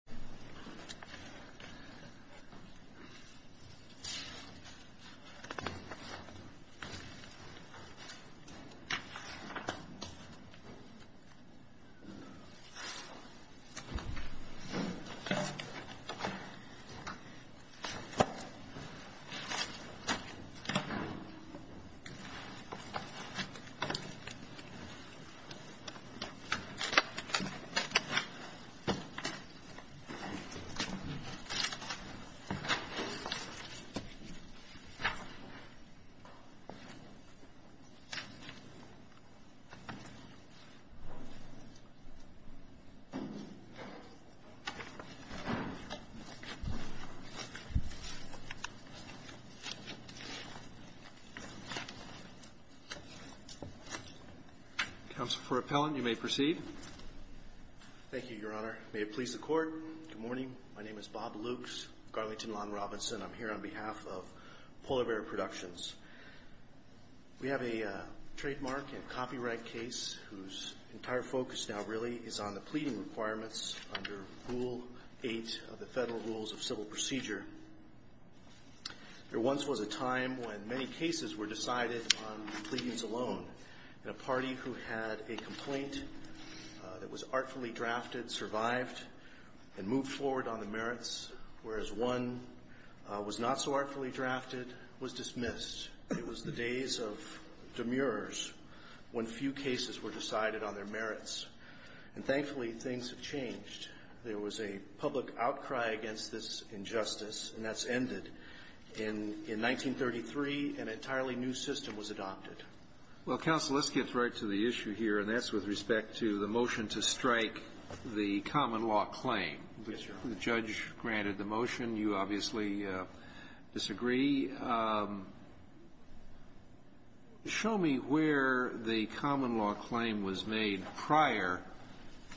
elsa bear urban 바람 fish poke, ice cream marshmallow pocket polar bear 얼음봉투 Good morning. My name is Bob Lukes, Garlington Lawn Robinson. I'm here on behalf of Polar Bear Productions. We have a trademark and copyright case whose entire focus now really is on the pleading requirements under Rule 8 of the Federal Rules of Civil Procedure. There once was a time when many cases were decided on pleadings alone. And a party who had a complaint that was artfully drafted survived and moved forward on the merits, whereas one was not so artfully drafted was dismissed. It was the days of demurers when few cases were decided on their merits. And thankfully, things have changed. There was a public outcry against this injustice, and that's ended. In 1933, an entirely new system was adopted. Well, Counsel, let's get right to the issue here, and that's with respect to the motion to strike the common law claim. Yes, Your Honor. The judge granted the motion. You obviously disagree. Show me where the common law claim was made prior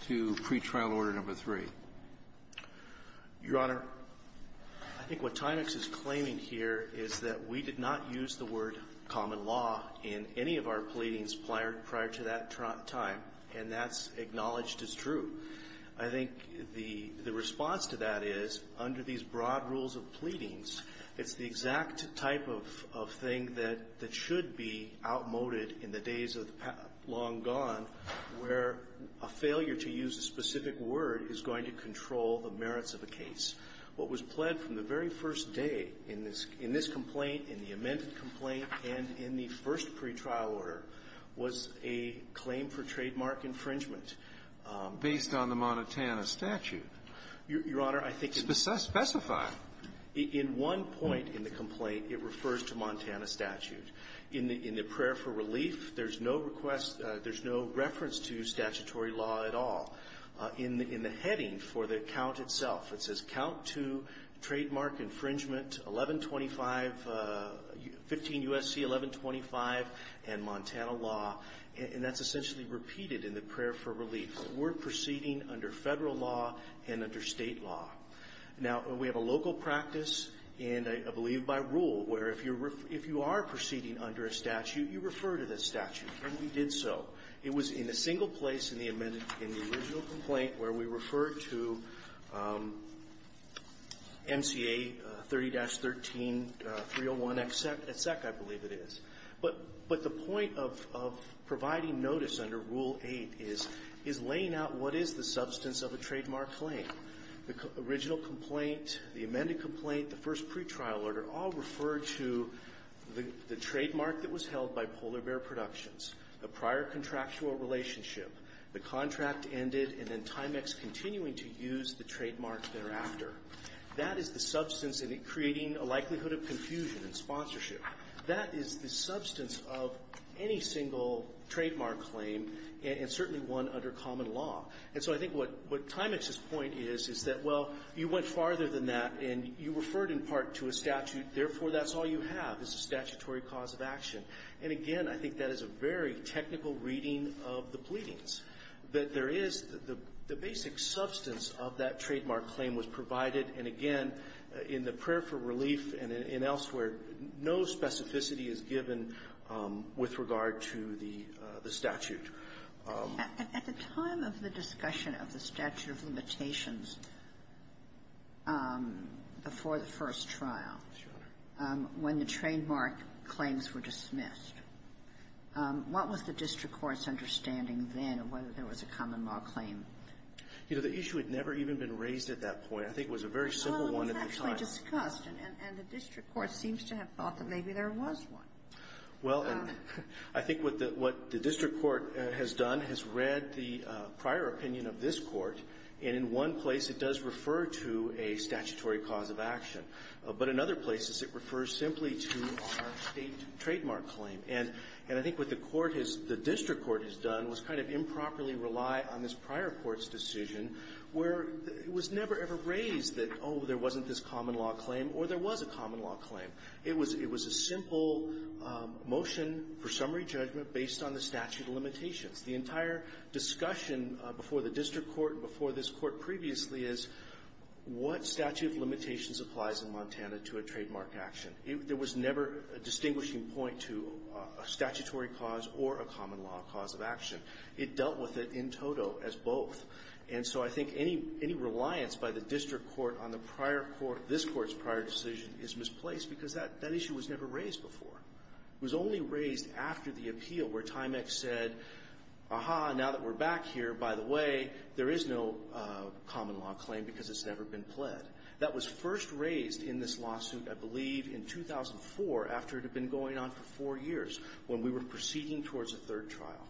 to Pretrial Order No. 3. Your Honor, I think what Tynix is claiming here is that we did not use the word common law in any of our pleadings prior to that time, and that's acknowledged as true. I think the response to that is, under these broad rules of pleadings, it's the exact type of thing that should be outmoded in the days of the long gone, where a failure to use a specific word is going to control the merits of a case. What was pled from the very first day in this complaint, in the amended complaint, and in the first pretrial order was a claim for trademark infringement. Based on the Montana statute. Your Honor, I think the ---- Specify. In one point in the complaint, it refers to Montana statute. In the prayer for relief, there's no request, there's no reference to statutory law at all. In the heading for the count itself, it says count to trademark infringement 1125, 15 U.S.C. 1125, and Montana law. And that's essentially repeated in the prayer for relief. We're proceeding under federal law and under state law. Now, we have a local practice, and I believe by rule, where if you're ---- if you are proceeding under a statute, you refer to the statute. And we did so. It was in a single place in the amended ---- in the original complaint where we referred to MCA 30-13-301XX, I believe it is. But the point of providing notice under Rule 8 is laying out what is the substance of a trademark claim. The original complaint, the amended complaint, the first pretrial order all referred to the trademark that was held by Polar Bear Productions, the prior contractual relationship, the contract ended, and then Timex continuing to use the trademark thereafter. That is the substance in creating a likelihood of confusion and sponsorship. That is the substance of any single trademark claim, and certainly one under common law. And so I think what Timex's point is, is that, well, you went farther than that, and you referred in part to a statute. Therefore, that's all you have is a statutory cause of action. And again, I think that is a very technical reading of the pleadings, that there is the basic substance of that trademark claim was provided, and again, in the prayer for relief and elsewhere, no specificity is given with regard to the statute. At the time of the discussion of the statute of limitations before the first trial, when the trademark claims were dismissed, what was the district court's understanding then of whether there was a common law claim? You know, the issue had never even been raised at that point. I think it was a very simple one at the time. Well, it was actually discussed, and the district court seems to have thought that maybe there was one. Well, and I think what the district court has done has read the prior opinion of this court, and in one place, it does refer to a statutory cause of action. But in other places, it refers simply to our state trademark claim. And I think what the court has — the district court has done was kind of improperly rely on this prior court's decision, where it was never, ever raised that, oh, there wasn't this common law claim, or there was a common law claim. It was a simple motion for summary judgment based on the statute of limitations. The entire discussion before the district court and before this Court previously is what statute of limitations applies in Montana to a trademark action. There was never a distinguishing point to a statutory cause or a common law cause of action. It dealt with it in toto as both. And so I think any reliance by the district court on the prior court — this court's decision was placed because that issue was never raised before. It was only raised after the appeal, where Tymex said, aha, now that we're back here, by the way, there is no common law claim because it's never been pled. That was first raised in this lawsuit, I believe, in 2004, after it had been going on for four years, when we were proceeding towards a third trial.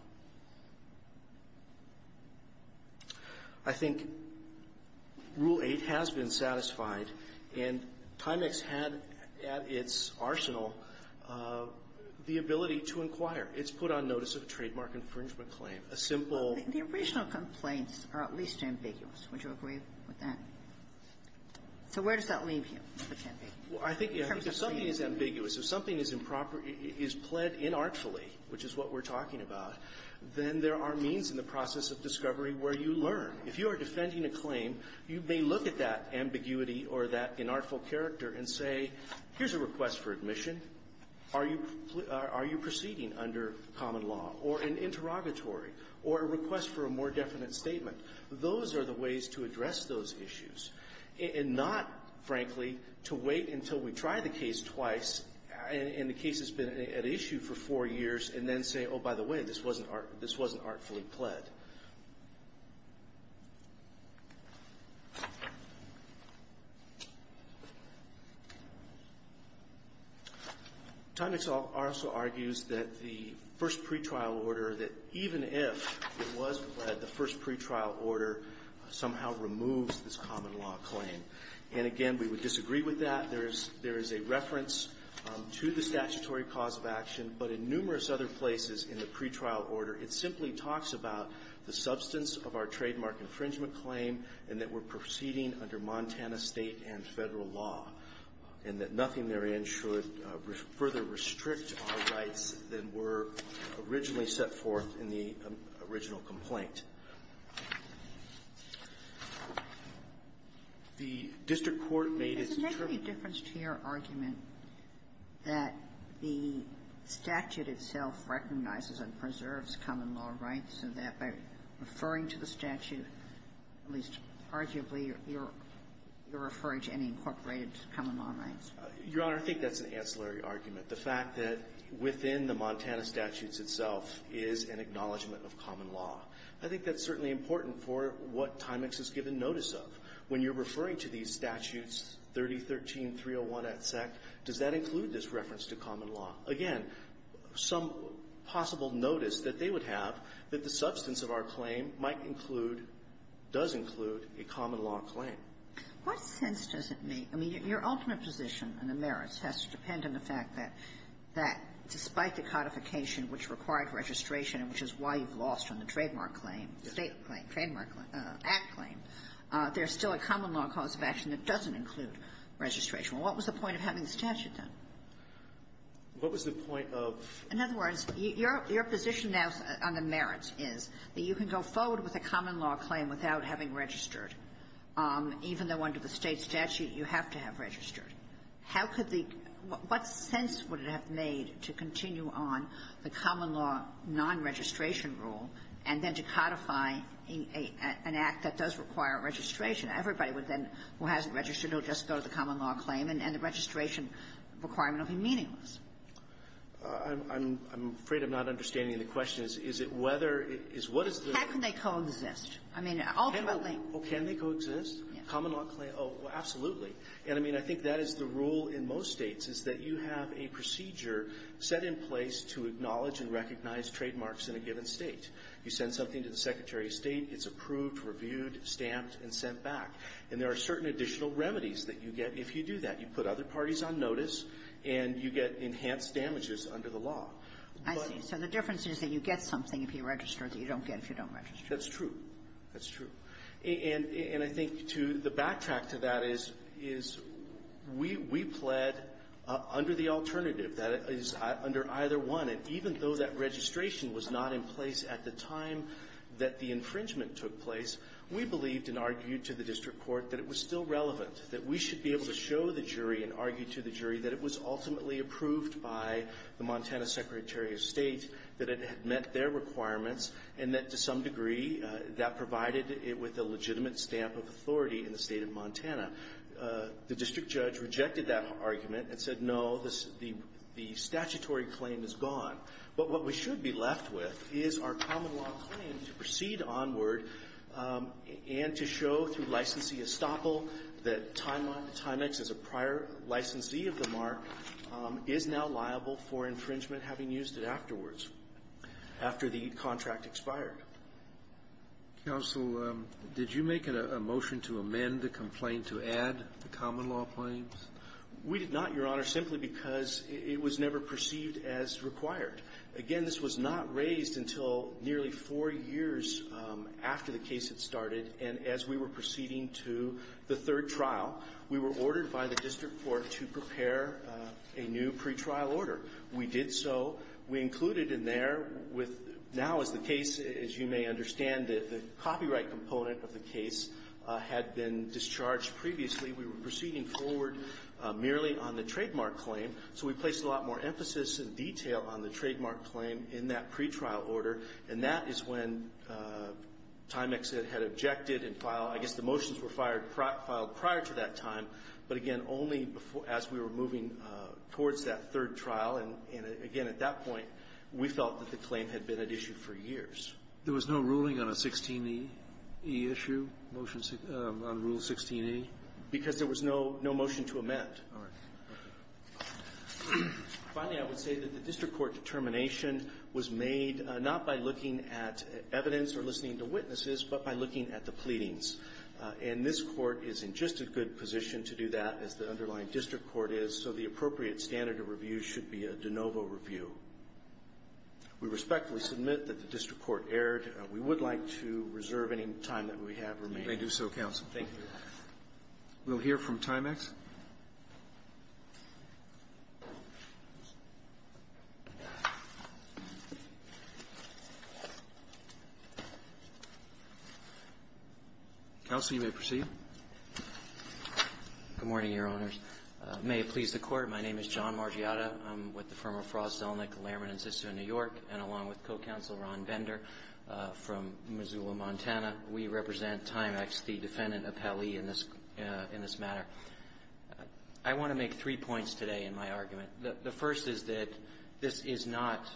I think Rule 8 has been satisfied. And Tymex had at its arsenal the ability to inquire. It's put on notice of a trademark infringement claim, a simple — The original complaints are at least ambiguous. Would you agree with that? So where does that leave you? Well, I think if something is ambiguous, if something is improper — is pled inartfully, which is what we're talking about, then there are means in the process of discovery where you learn. If you are defending a claim, you may look at that ambiguity or that inartful character and say, here's a request for admission. Are you proceeding under common law, or an interrogatory, or a request for a more definite statement? Those are the ways to address those issues, and not, frankly, to wait until we try the case twice and the case has been at issue for four years and then say, oh, by the way, this wasn't artfully pled. Tymex also argues that the first pretrial order, that even if it was pled, the first pretrial order somehow removes this common law claim. And, again, we would disagree with that. There is a reference to the statutory cause of action, but in numerous other places in the pretrial order, it simply talks about the substance of our trademark infringement claim and that we're proceeding under Montana State and Federal law, and that nothing therein should further restrict our rights than were originally set forth in the original complaint. The district court made its — Sotomayor, is there any difference to your argument that the statute itself recognizes and preserves common law rights, and that by referring to the statute, at least arguably, you're referring to any incorporated common law rights? Your Honor, I think that's an ancillary argument. The fact that within the Montana statutes itself is an acknowledgment of common law. I think that's certainly important for what Tymex has given notice of. When you're referring to these statutes, 3013, 301 at sec, does that include this reference to common law? Again, some possible notice that they would have that the substance of our claim might include, does include, a common law claim. What sense does it make? I mean, your ultimate position on the merits has to depend on the fact that despite the codification which required registration, which is why we've lost on the trademark claim, State claim, trademark claim, Act claim, there's still a common law cause of action that doesn't include registration. Well, what was the point of having the statute then? What was the point of — In other words, your position now on the merits is that you can go forward with a common law claim without having registered, even though under the State statute you have to have registered. How could the — what sense would it have made to continue on the common law non-registration rule and then to codify an act that does require registration? Everybody would then, who hasn't registered, would just go to the common law claim, and the registration requirement would be meaningless. I'm afraid I'm not understanding the question. Is it whether — is what is the — How can they coexist? I mean, ultimately — Can they coexist? Common law claim? Oh, absolutely. And, I mean, I think that is the best place to acknowledge and recognize trademarks in a given State. You send something to the Secretary of State, it's approved, reviewed, stamped, and sent back. And there are certain additional remedies that you get if you do that. You put other parties on notice, and you get enhanced damages under the law. I see. So the difference is that you get something if you register that you don't get if you don't register. That's true. That's true. And I think, too, the backtrack to that is we pled under the alternative. That is under either one. And even though that registration was not in place at the time that the infringement took place, we believed and argued to the district court that it was still relevant, that we should be able to show the jury and argue to the jury that it was ultimately approved by the Montana Secretary of State, that it had met their requirements, and that, to some degree, that provided it with a legitimate stamp of authority in the State of Montana. The district judge rejected that argument and said, no, the statutory claim is gone. But what we should be left with is our common-law claim to proceed onward and to show through licensee estoppel that Timex as a prior licensee of the mark is now liable for infringement, having used it afterwards, after the contract expired. Roberts. Counsel, did you make a motion to amend the complaint to add the common-law claims? We did not, Your Honor, simply because it was never perceived as required. Again, this was not raised until nearly four years after the case had started. And as we were proceeding to the third trial, we were ordered by the district court to prepare a new pretrial order. We did so. We included in there with now, as the case, as you may understand, the copyright component of the case had been discharged previously. We were proceeding forward merely on the trademark claim, so we placed a lot more emphasis and detail on the trademark claim in that pretrial order. And that is when Timex had objected and filed. I guess the motions were filed prior to that time, but, again, only as we were moving towards that third trial. And, again, at that point, we felt that the claim had been at issue for years. There was no ruling on a 16e issue, motion on Rule 16e? Because there was no motion to amend. All right. Finally, I would say that the district court determination was made not by looking at evidence or listening to witnesses, but by looking at the pleadings. And this Court is in just a good position to do that, as the underlying district court is, so the appropriate standard of review should be a de novo review. We respectfully submit that the district court erred. We would like to reserve any time that we have remaining. Roberts. They do so, counsel. We'll hear from Timex. Counsel, you may proceed. Good morning, Your Honors. May it please the Court, my name is John Margiatta. I'm with the firm of Frost, Zelnick, Lehrman & Zissou New York, and along with co-counsel Ron Bender from Missoula, Montana. We represent Timex, the defendant appellee in this matter. I want to make three points today in my argument. The first is that this is not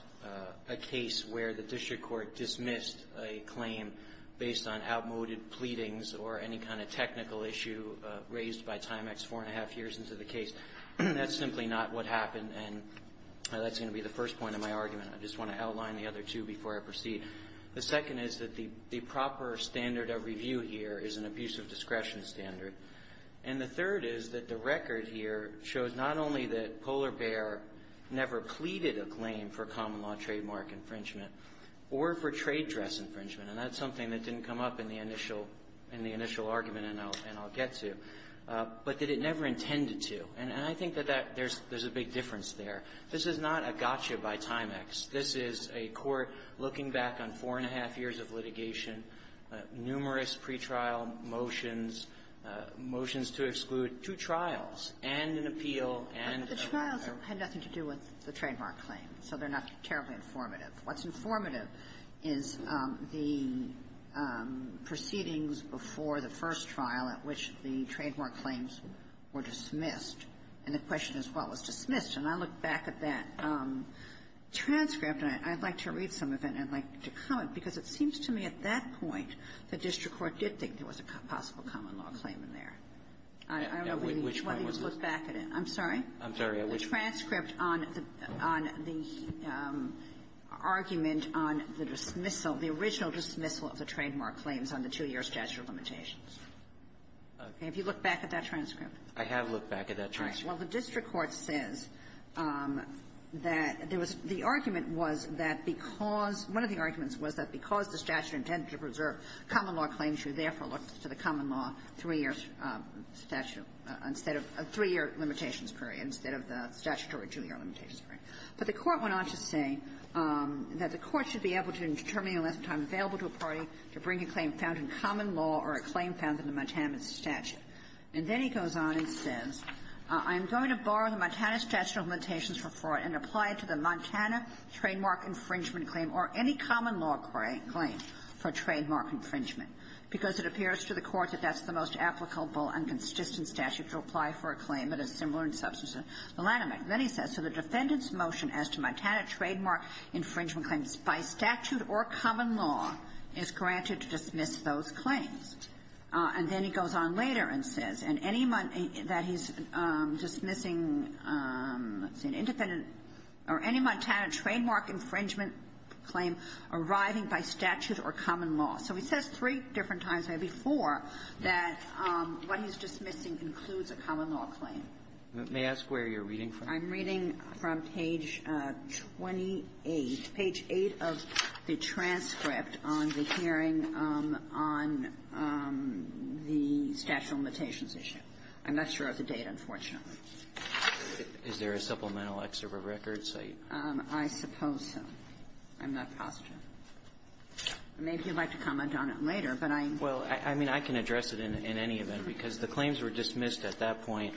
a case where the district court dismissed a claim based on outmoded pleadings or any kind of technical issue raised by Timex four and a half years into the case. That's simply not what happened, and that's going to be the first point of my argument. I just want to outline the other two before I proceed. The second is that the proper standard of review here is an abusive discretion standard. And the third is that the record here shows not only that Polar Bear never pleaded a claim for common law trademark infringement or for trade dress infringement, and that's something that didn't come up in the initial argument, and I'll get to, but that it never intended to. And I think that there's a big difference there. This is not a gotcha by Timex. This is a court looking back on four and a half years of litigation, numerous pretrial motions, motions to exclude two trials, and an appeal, and a rather ---- Kagan. But the trials had nothing to do with the trademark claim, so they're not terribly informative. What's informative is the proceedings before the first trial at which the trademark claims were dismissed, and the question as well was dismissed. And I look back at that transcript, and I'd like to read some of it, and I'd like to comment, because it seems to me at that point the district court did think there was a possible common law claim in there. I don't know whether you've looked back at it. I'm sorry? I'm sorry. The transcript on the argument on the dismissal, the original dismissal of the trademark claims on the two-year statute of limitations. I have looked back at that transcript. Well, the district court says that there was the argument was that because one of the arguments was that because the statute intended to preserve common law claims, you therefore looked to the common law three-year statute instead of a three-year limitations period instead of the statutory two-year limitations period. But the court went on to say that the court should be able to, in determining the amount of time available to a party, to bring a claim found in common law or a claim found in the Montana statute. And then he goes on and says, I'm going to borrow the Montana statute of limitations for fraud and apply it to the Montana trademark infringement claim or any common law claim for trademark infringement, because it appears to the Court that that's the most applicable and consistent statute to apply for a claim that is similar in substance to the Lanham Act. And then he says, so the defendant's motion as to Montana trademark infringement claims by statute or common law is granted to dismiss those claims. And then he goes on later and says, and any that he's dismissing, let's see, an independent or any Montana trademark infringement claim arriving by statute or common law. So he says three different times, maybe four, that what he's dismissing includes a common law claim. May I ask where you're reading from? I'm reading from page 28, page 8 of the transcript on the hearing on the statute of limitations issue. I'm not sure of the date, unfortunately. Is there a supplemental excerpt of records? I suppose so. I'm not positive. Maybe you'd like to comment on it later, but I'm --- Well, I mean, I can address it in any event, because the claims were dismissed at that point.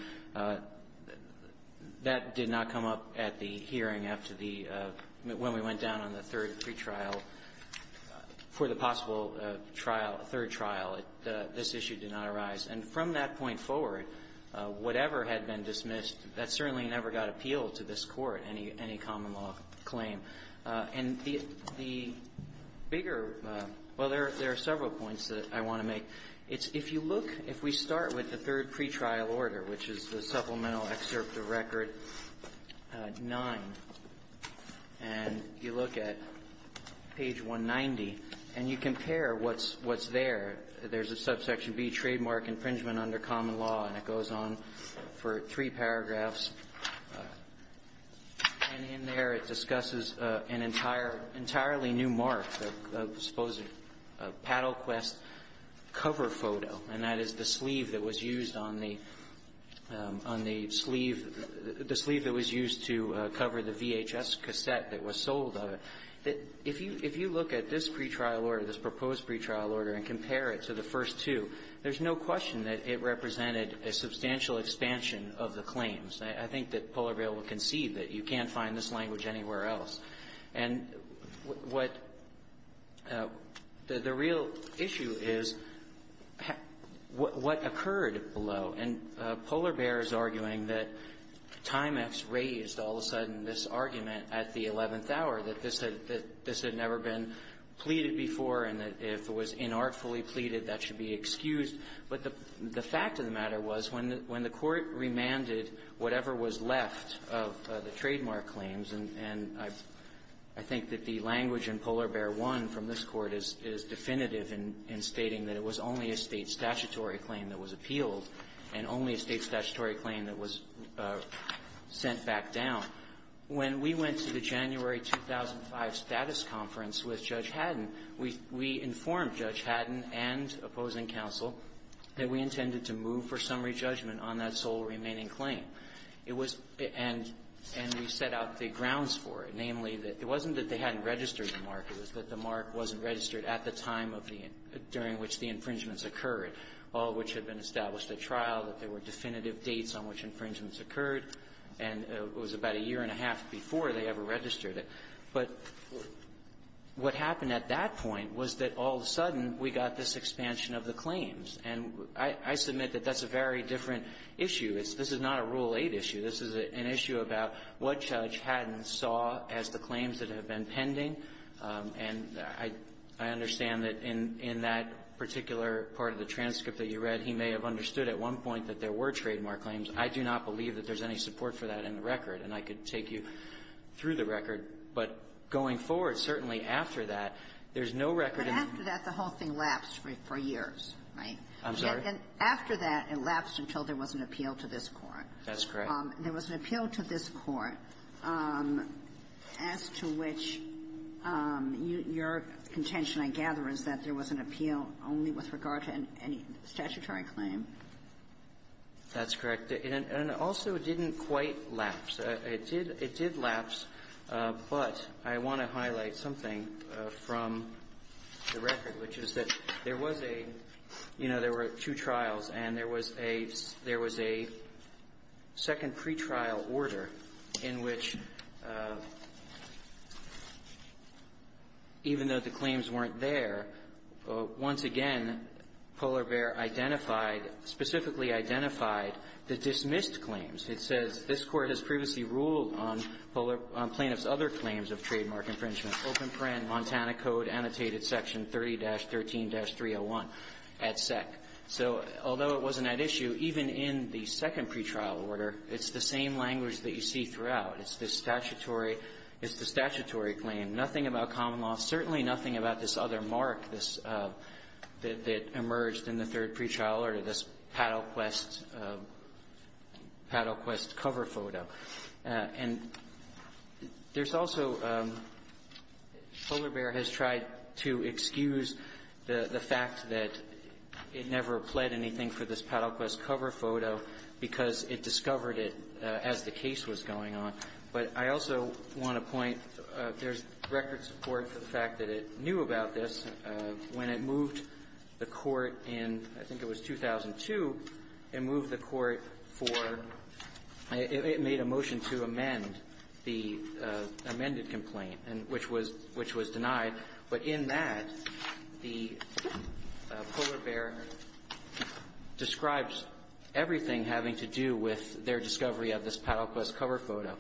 That did not come up at the hearing after the -- when we went down on the third pretrial for the possible trial, third trial. This issue did not arise. And from that point forward, whatever had been dismissed, that certainly never got appealed to this Court, any common law claim. And the bigger --- well, there are several points that I want to make. It's -- if you look, if we start with the third pretrial order, which is the supplemental excerpt of record 9, and you look at page 190, and you compare what's there, there's a subsection B, trademark infringement under common law, and it goes on for three paragraphs. And in there, it discusses an entire entirely new mark, a supposed Paddle Quest cover photo, and that is the sleeve that was used on the --- on the sleeve, the sleeve that was used to cover the VHS cassette that was sold of it. If you look at this pretrial order, this proposed pretrial order, and compare it to the first two, there's no question that it represented a substantial expansion of the claims. I think that Polar Bail will concede that you can't find this language anywhere else. And what the real issue is, what occurred below. And Polar Bair is arguing that Timex raised all of a sudden this argument at the eleventh hour, that this had never been pleaded before, and that if it was inartfully pleaded, that should be excused. But the fact of the matter was, when the Court remanded whatever was left of the trademark claims, and I think that the language in Polar Bair 1 from this Court is definitive in stating that it was only a State statutory claim that was appealed and only a State statutory claim that was sent back down, when we went to the January 2005 status conference with Judge Haddon, we informed Judge Haddon and opposing counsel that we intended to move for summary judgment on that sole remaining claim. It was and we set out the grounds for it. Namely, that it wasn't that they hadn't registered the mark. It was that the mark wasn't registered at the time of the end, during which the infringements occurred, all of which had been established at trial, that there were definitive dates on which infringements occurred, and it was about a year and a half before they ever registered it. But what happened at that point was that all of a sudden, we got this expansion of the claims. And I submit that that's a very different issue. This is not a Rule 8 issue. This is an issue about what Judge Haddon saw as the claims that have been pending. And I understand that in that particular part of the transcript that you read, he may have understood at one point that there were trademark claims. I do not believe that there's any support for that in the record. And I could take you through the record. But going forward, certainly after that, there's no record in the ---- Ginsburg. But after that, the whole thing lapsed for years, right? Kedem. I'm sorry? And after that, it lapsed until there was an appeal to this Court. That's correct. There was an appeal to this Court as to which your contention, I gather, is that there was an appeal only with regard to any statutory claim? That's correct. And also, it didn't quite lapse. It did lapse, but I want to highlight something from the record, which is that there was a ---- you know, there were two trials, and there was a ---- there was a second pretrial order in which, even though the claims weren't there, once again, Polarbear identified, specifically identified, the dismissed claims. It says this Court has previously ruled on Polarbear ---- on plaintiff's other claims of trademark infringement. Open print, Montana Code, Annotated Section 30-13-301 at SEC. So although it wasn't at issue, even in the second pretrial order, it's the same language that you see throughout. It's the statutory ---- it's the statutory claim. Nothing about common law. Certainly nothing about this other mark, this ---- that emerged in the third pretrial order, this Paddle Quest ---- Paddle Quest cover photo. And there's also ---- Polarbear has tried to excuse the fact that it never pled anything for this Paddle Quest cover photo because it discovered it as the case was going on. But I also want to point, there's record support for the fact that it knew about this when it moved the Court in, I think it was 2002, and moved the Court for ---- it made a motion to amend the amended complaint, and which was ---- which was denied. But in that, the Polarbear describes everything having to do with their discovery of this Paddle Quest cover photo.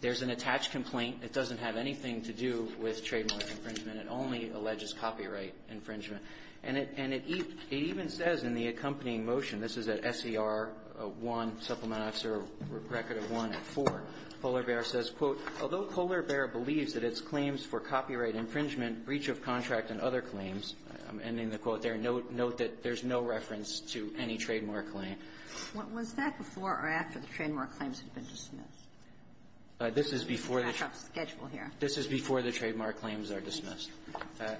There's an attached complaint. It doesn't have anything to do with trademark infringement. It only alleges copyright infringement. And it ---- and it even says in the accompanying motion, this is at SER1, Supplement X, or record of 1 at 4, Polarbear says, quote, although Polarbear believes that its claims for copyright infringement, breach of contract, and other claims, I'm ending the quote there, note that there's no reference to any trademark claim. This is before the trademark claims are dismissed.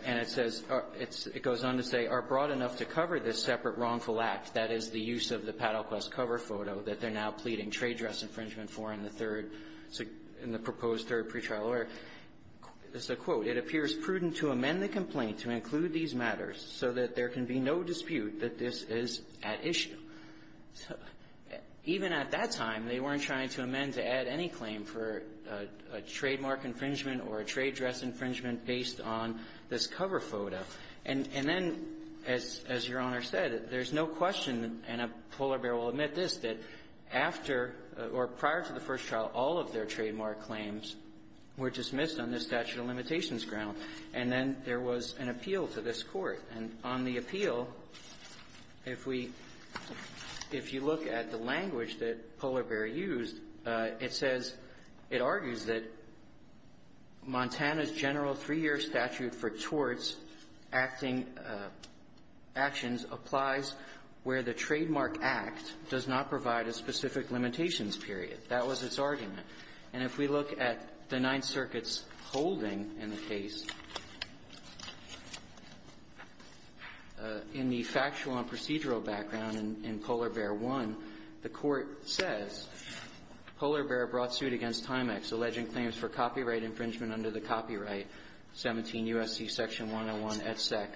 And it says ---- it goes on to say, are broad enough to cover this separate wrongful act, that is, the use of the Paddle Quest cover photo, that they're now pleading trade dress infringement for in the third ---- in the proposed third pretrial order. It's a quote. It appears prudent to amend the complaint to include these matters so that there can be no dispute that this is at issue. So even at that time, they weren't trying to amend to add any claim for a trademark infringement or a trade dress infringement based on this cover photo. And then, as Your Honor said, there's no question and Polarbear will admit this, that after or prior to the first trial, all of their trademark claims were dismissed on this statute of limitations ground. And then there was an appeal to this Court. And on the appeal, if we ---- if you look at the language that Polarbear used, it says ---- it argues that Montana's general three-year statute for torts, acting ---- actions applies where the trademark act does not provide a specific limitations period. That was its argument. And if we look at the Ninth Circuit's holding in the case, in the factual and procedural background in Polarbear 1, the Court says, Polarbear brought suit against Timex, alleging claims for copyright infringement under the Copyright 17 U.S.C. Section 101 et sec,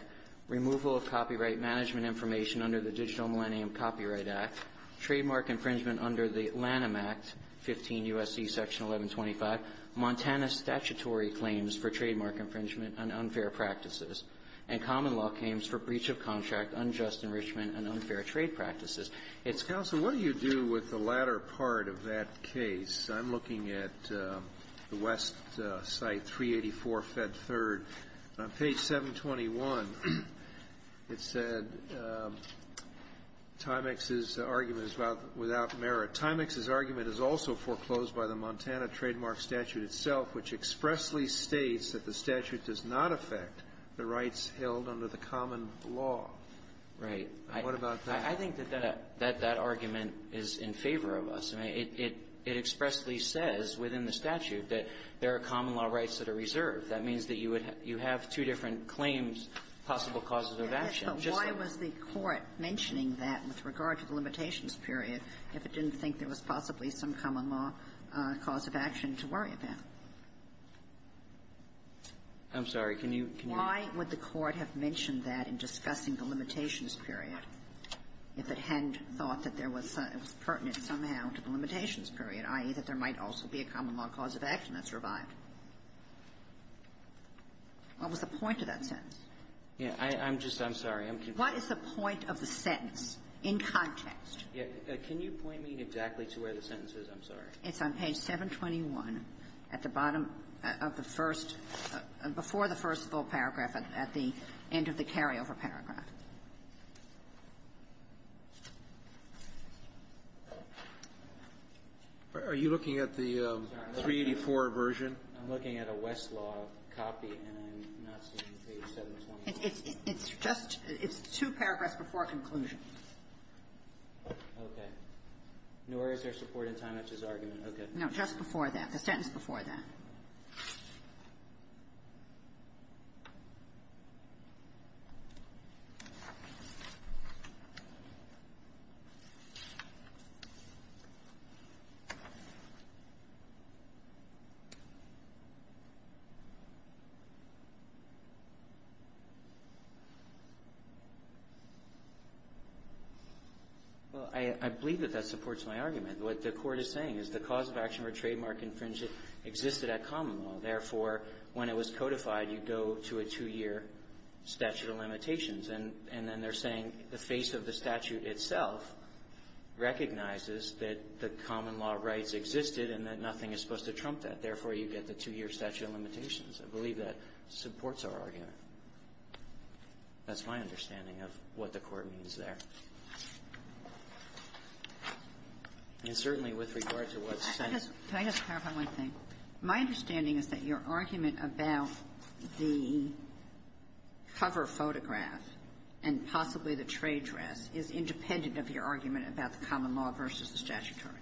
removal of copyright management information under the Digital Millennium Copyright Act, trademark infringement under the Lanham Act, 15 U.S.C. Section 1125, Montana statutory claims for trademark infringement and unfair practices, and common law claims for breach of contract, unjust enrichment, and unfair trade practices. It's ---- Roberts. Counsel, what do you do with the latter part of that case? I'm looking at the west site, 384 Fed 3rd. On page 721, it said, Timex's argument is without merit. Timex's argument is also foreclosed by the Montana trademark statute itself, which expressly states that the statute does not affect the rights held under the common law. Right. What about that? I think that that argument is in favor of us. I mean, it expressly says within the statute that there are common law rights that are reserved. That means that you have two different claims, possible causes of action. Why was the Court mentioning that with regard to the limitations period if it didn't think there was possibly some common law cause of action to worry about? I'm sorry. Can you ---- Why would the Court have mentioned that in discussing the limitations period if it hadn't thought that there was pertinent somehow to the limitations period, i.e., that there might also be a common law cause of action that survived? What was the point of that sentence? Yeah. I'm just ---- I'm sorry. I'm confused. What is the point of the sentence in context? Can you point me exactly to where the sentence is? I'm sorry. It's on page 721 at the bottom of the first ---- before the first full paragraph at the end of the carryover paragraph. Are you looking at the 384 version? I'm looking at a Westlaw copy, and I'm not seeing page 721. It's just ---- it's two paragraphs before conclusion. Okay. Nor is there support in Timex's argument. Okay. No. Just before that. The sentence before that. Well, I believe that that supports my argument. What the Court is saying is the cause of action or trademark infringement existed at common law. Therefore, when it was codified, you go to a two-year statute of limitations. And then they're saying the face of the statute itself recognizes that the common law rights existed and that nothing is supposed to trump that. Therefore, you get the two-year statute of limitations. I believe that supports our argument. That's my understanding of what the Court means there. And certainly with regard to what's said ---- Can I just clarify one thing? My understanding is that your argument about the cover photograph and possibly the trade dress is independent of your argument about the common law versus the statutory.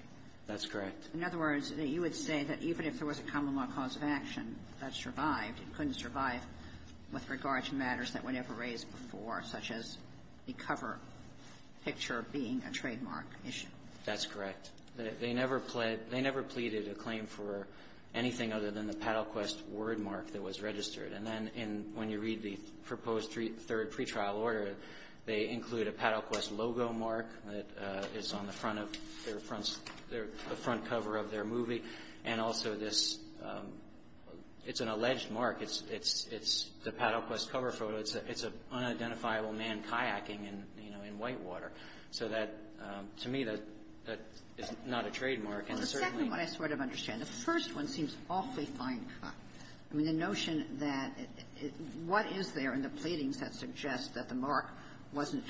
That's correct. In other words, you would say that even if there was a common law cause of action that survived, it couldn't survive with regard to matters that were never raised before, such as the cover picture being a trademark issue. That's correct. They never pled ---- they never pleaded a claim for anything other than the Paddlequest word mark that was registered. And then in ---- when you read the proposed three ---- third pretrial order, they include a Paddlequest logo mark that is on the front of their front ---- the front cover of their movie, and also this ---- it's an alleged mark. It's the Paddlequest cover photo. It's an unidentifiable man kayaking in, you know, in Whitewater. So that, to me, that is not a trademark. And certainly ---- Well, the second one I sort of understand. The first one seems awfully fine-cut. I mean, the notion that it ---- what is there in the pleadings that suggest that the mark wasn't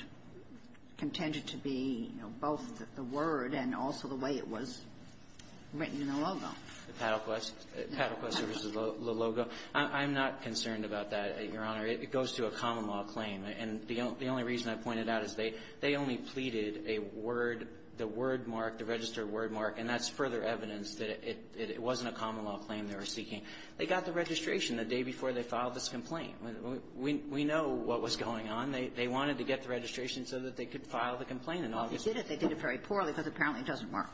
contended to be, you know, both the word and also the way it was written in the logo? The Paddlequest. Paddlequest was the logo. I'm not concerned about that, Your Honor. It goes to a common-law claim. And the only reason I pointed out is they only pleaded a word ---- the word mark, the registered word mark, and that's further evidence that it wasn't a common-law claim they were seeking. They got the registration the day before they filed this complaint. We know what was going on. They wanted to get the registration so that they could file the complaint in August. Well, they did it. They did it very poorly because apparently it doesn't work.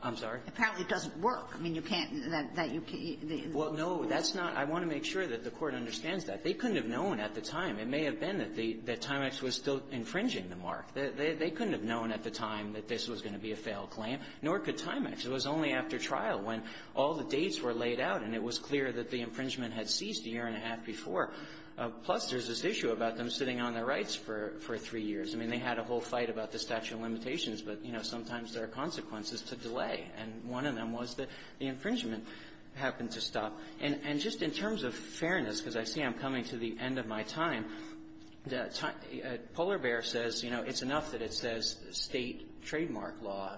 I'm sorry? Apparently it doesn't work. I mean, you can't ---- Well, no. That's not ---- I want to make sure that the Court understands that. They couldn't have known at the time. It may have been that the ---- that Timex was still infringing the mark. They couldn't have known at the time that this was going to be a failed claim, nor could Timex. It was only after trial when all the dates were laid out and it was clear that the infringement had ceased a year and a half before. Plus, there's this issue about them sitting on their rights for three years. I mean, they had a whole fight about the statute of limitations, but, you know, sometimes there are consequences to delay. And one of them was that the infringement happened to stop. And just in terms of fairness, because I see I'm coming to the end of my time, Polar Bear says, you know, it's enough that it says State trademark law,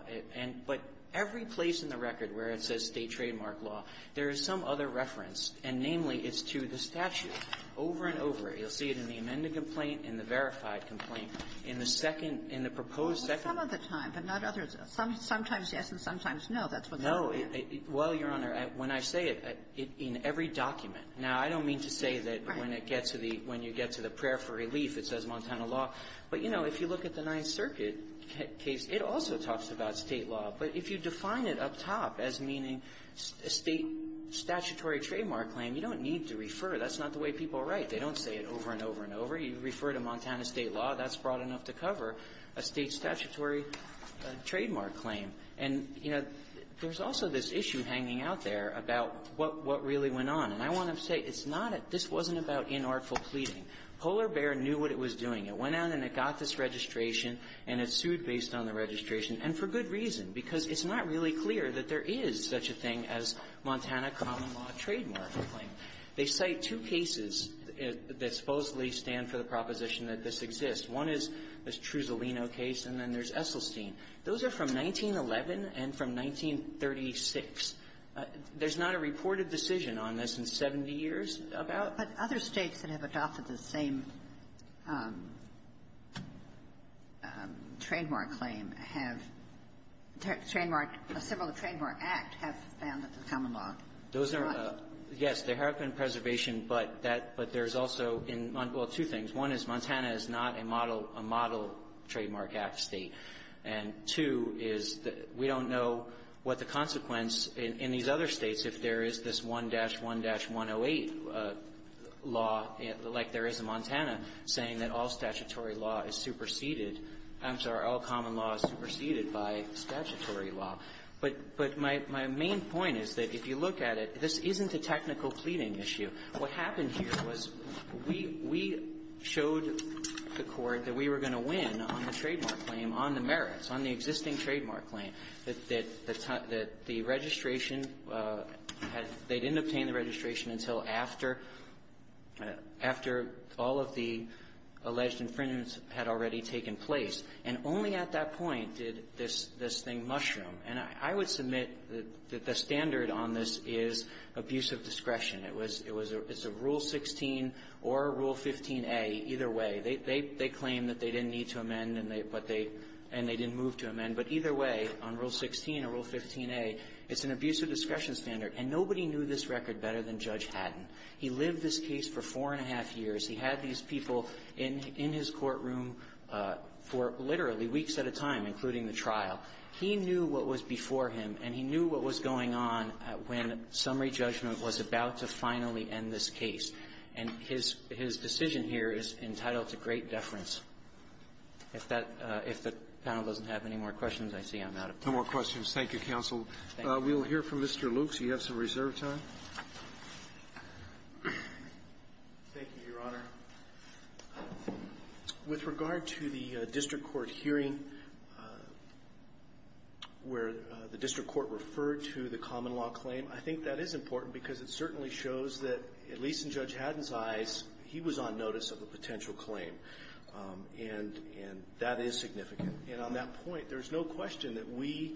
but every place in the record where it says State trademark law, there is some other reference, and namely, it's to the statute over and over. You'll see it in the amended complaint, in the verified complaint, in the second ---- in the proposed second. Well, some of the time, but not others. Sometimes yes and sometimes no. That's what they're saying. No. Well, Your Honor, when I say it, in every document. Now, I don't mean to say that when it gets to the ---- when you get to the prayer for relief, it says Montana law. But, you know, if you look at the Ninth Circuit case, it also talks about State law. But if you define it up top as meaning a State statutory trademark claim, you don't need to refer. That's not the way people write. They don't say it over and over and over. You refer to Montana State law. That's broad enough to cover a State statutory trademark claim. And, you know, there's also this issue hanging out there about what really went on. And I want to say it's not a ---- this wasn't about inartful pleading. Polar Bear knew what it was doing. It went out and it got this registration, and it sued based on the registration, and for good reason, because it's not really clear that there is such a thing as Montana common law trademark claim. They cite two cases that supposedly stand for the proposition that this exists. One is this Trusolino case, and then there's Esselstyn. Those are from 1911 and from 1936. There's not a reported decision on this in 70 years about ---- Kagan. But other States that have adopted the same trademark claim have ---- trademark ---- several of the Trademark Act have found that there's common law. Those are ---- Yes. There have been preservation, but that ---- but there's also in ---- well, two things. One is Montana is not a model ---- a model Trademark Act State. And two is that we don't know what the consequence in these other States, if there is this 1-1-108 law, like there is in Montana, saying that all statutory law is superseded ---- I'm sorry, all common law is superseded by statutory law. But my main point is that if you look at it, this isn't a technical pleading issue. What happened here was we ---- we showed the Court that we were going to win on the trademark claim, on the merits, on the existing trademark claim, that the registration had ---- they didn't obtain the registration until after ---- after all of the alleged infringements had already taken place. And only at that point did this thing mushroom. And I would submit that the standard on this is abuse of discretion. It was ---- it's a Rule 16 or Rule 15a, either way. They claim that they didn't need to amend, and they didn't move to amend. But either way, on Rule 16 or Rule 15a, it's an abuse of discretion standard. And nobody knew this record better than Judge Haddon. He lived this case for four and a half years. He had these people in his courtroom for literally weeks at a time, including the trial. He knew what was before him, and he knew what was going on when summary judgment was about to finally end this case. And his decision here is entitled to great deference. If that ---- if the panel doesn't have any more questions, I see I'm out of time. Roberts. No more questions. Thank you, counsel. We'll hear from Mr. Luke so you have some reserve time. Luke. Thank you, Your Honor. With regard to the district court hearing where the district court referred to the common law claim, I think that is important because it certainly shows that, at least in Judge Haddon's eyes, he was on notice of the potential claim. And that is significant. And on that point, there's no question that we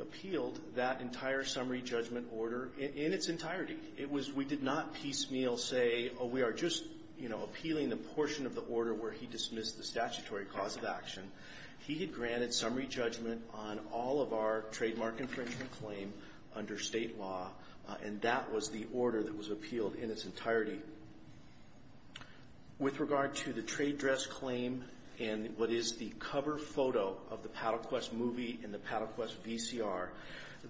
appealed that entire summary judgment order in its entirety. It was we did not piecemeal say, oh, we are just, you know, appealing the portion of the order where he dismissed the statutory cause of action. He had granted summary judgment on all of our trademark infringement claim under state law, and that was the order that was appealed in its entirety. With regard to the trade dress claim and what is the cover photo of the Paddle Quest movie and the Paddle Quest VCR,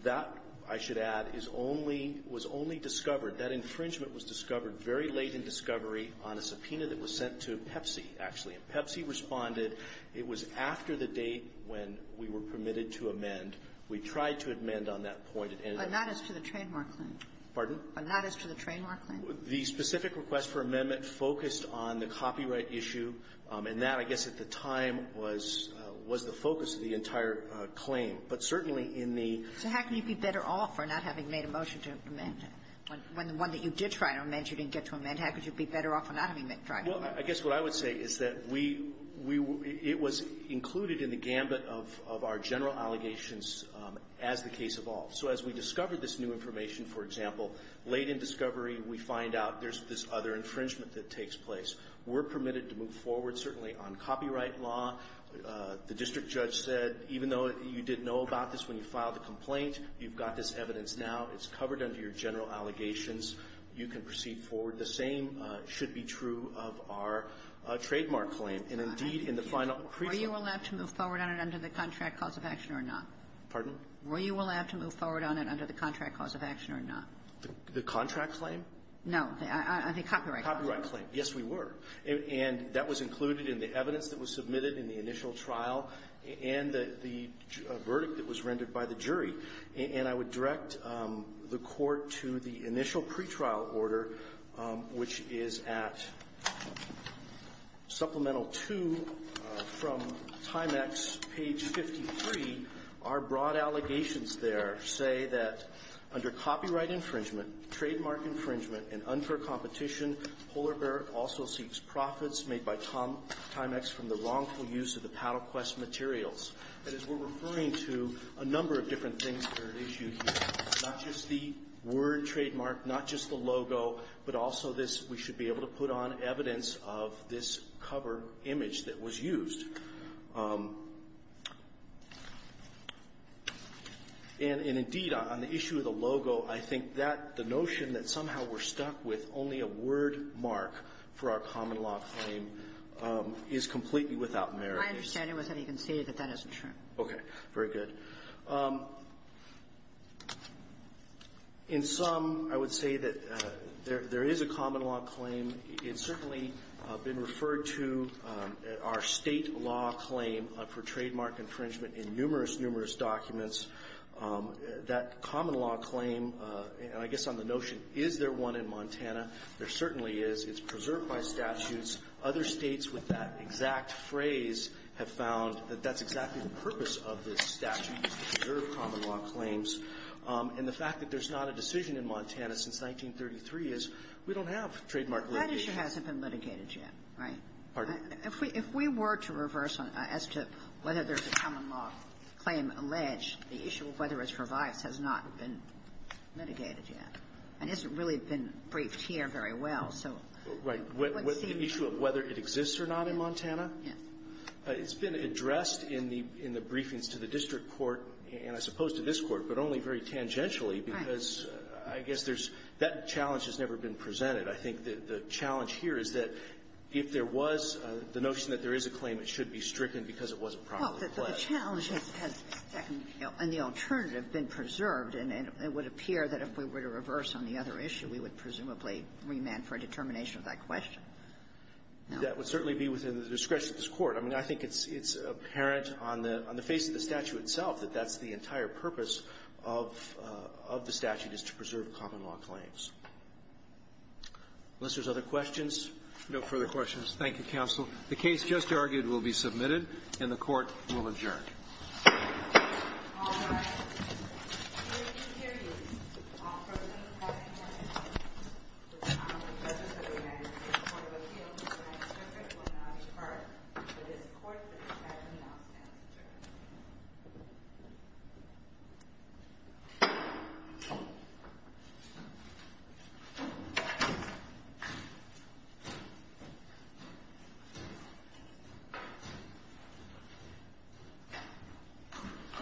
that, I should add, is only ---- was only discovered. That infringement was discovered very late in discovery on a subpoena that was sent to Pepsi, actually. Pepsi responded. It was after the date when we were permitted to amend. We tried to amend on that point and ended up ---- But not as to the trademark claim. Pardon? But not as to the trademark claim. The specific request for amendment focused on the copyright issue, and that, I guess, at the time was the focus of the entire claim. But certainly in the ---- So how can you be better off for not having made a motion to amend? When the one that you did try to amend, you didn't get to amend, how could you be better off for not having tried to amend? Well, I guess what I would say is that we ---- it was included in the gambit of our general allegations as the case evolved. So as we discovered this new information, for example, late in discovery, we find out there's this other infringement that takes place. We're permitted to move forward, certainly on copyright law. The district judge said, even though you didn't know about this when you filed a complaint, you've got this evidence now. It's covered under your general allegations. You can proceed forward. The same should be true of our trademark claim. And, indeed, in the final ---- Were you allowed to move forward on it under the contract cause of action or not? Pardon? Were you allowed to move forward on it under the contract cause of action or not? The contract claim? No. The copyright claim. Copyright claim. Yes, we were. And that was included in the evidence that was submitted in the initial trial and the verdict that was rendered by the jury. And I would direct the Court to the initial pretrial order, which is at Supplemental 2 from Timex, page 53. Our broad allegations there say that under copyright infringement, trademark infringement, and unfair competition, Polar Bear also seeks profits made by Timex from the wrongful use of the Paddle Quest materials. And as we're referring to, a number of different things are at issue here, not just the word trademark, not just the logo, but also this we should be able to put on evidence of this cover image that was used. And, indeed, on the issue of the logo, I think that the notion that somehow we're stuck with only a word mark for our common law claim is completely without merit. My understanding was that he conceded that that isn't true. Okay. Very good. In sum, I would say that there is a common law claim. It's certainly been referred to, our State law claim for trademark infringement in numerous, numerous documents. That common law claim, and I guess on the notion, is there one in Montana, there certainly is. It's preserved by statutes. Other States with that exact phrase have found that that's exactly the purpose of this statute, is to preserve common law claims. And the fact that there's not a decision in Montana since 1933 is we don't have trademark litigation. That issue hasn't been litigated yet, right? Pardon? If we were to reverse as to whether there's a common law claim alleged, the issue of whether it's revised has not been litigated yet and hasn't really been briefed here very well. So what seems to be the issue? Whether it exists or not in Montana? Yes. It's been addressed in the briefings to the district court, and I suppose to this court, but only very tangentially, because I guess there's that challenge has never been presented. I think the challenge here is that if there was the notion that there is a claim, it should be stricken because it wasn't properly pledged. Well, the challenge has, and the alternative, been preserved. And it would appear that if we were to reverse on the other issue, we would presumably remand for a determination of that question. That would certainly be within the discretion of this court. I mean, I think it's apparent on the face of the statute itself that that's the entire purpose of the statute is to preserve common law claims. Unless there's other questions, no further questions. Thank you, counsel. The case just argued will be submitted, and the Court will adjourn. All rise. Hear ye, hear ye. All present, have you heard? The time of the judgment of the United States Court of Appeals is nine to ten. It will now be part of this court that the attorney now stands adjourned.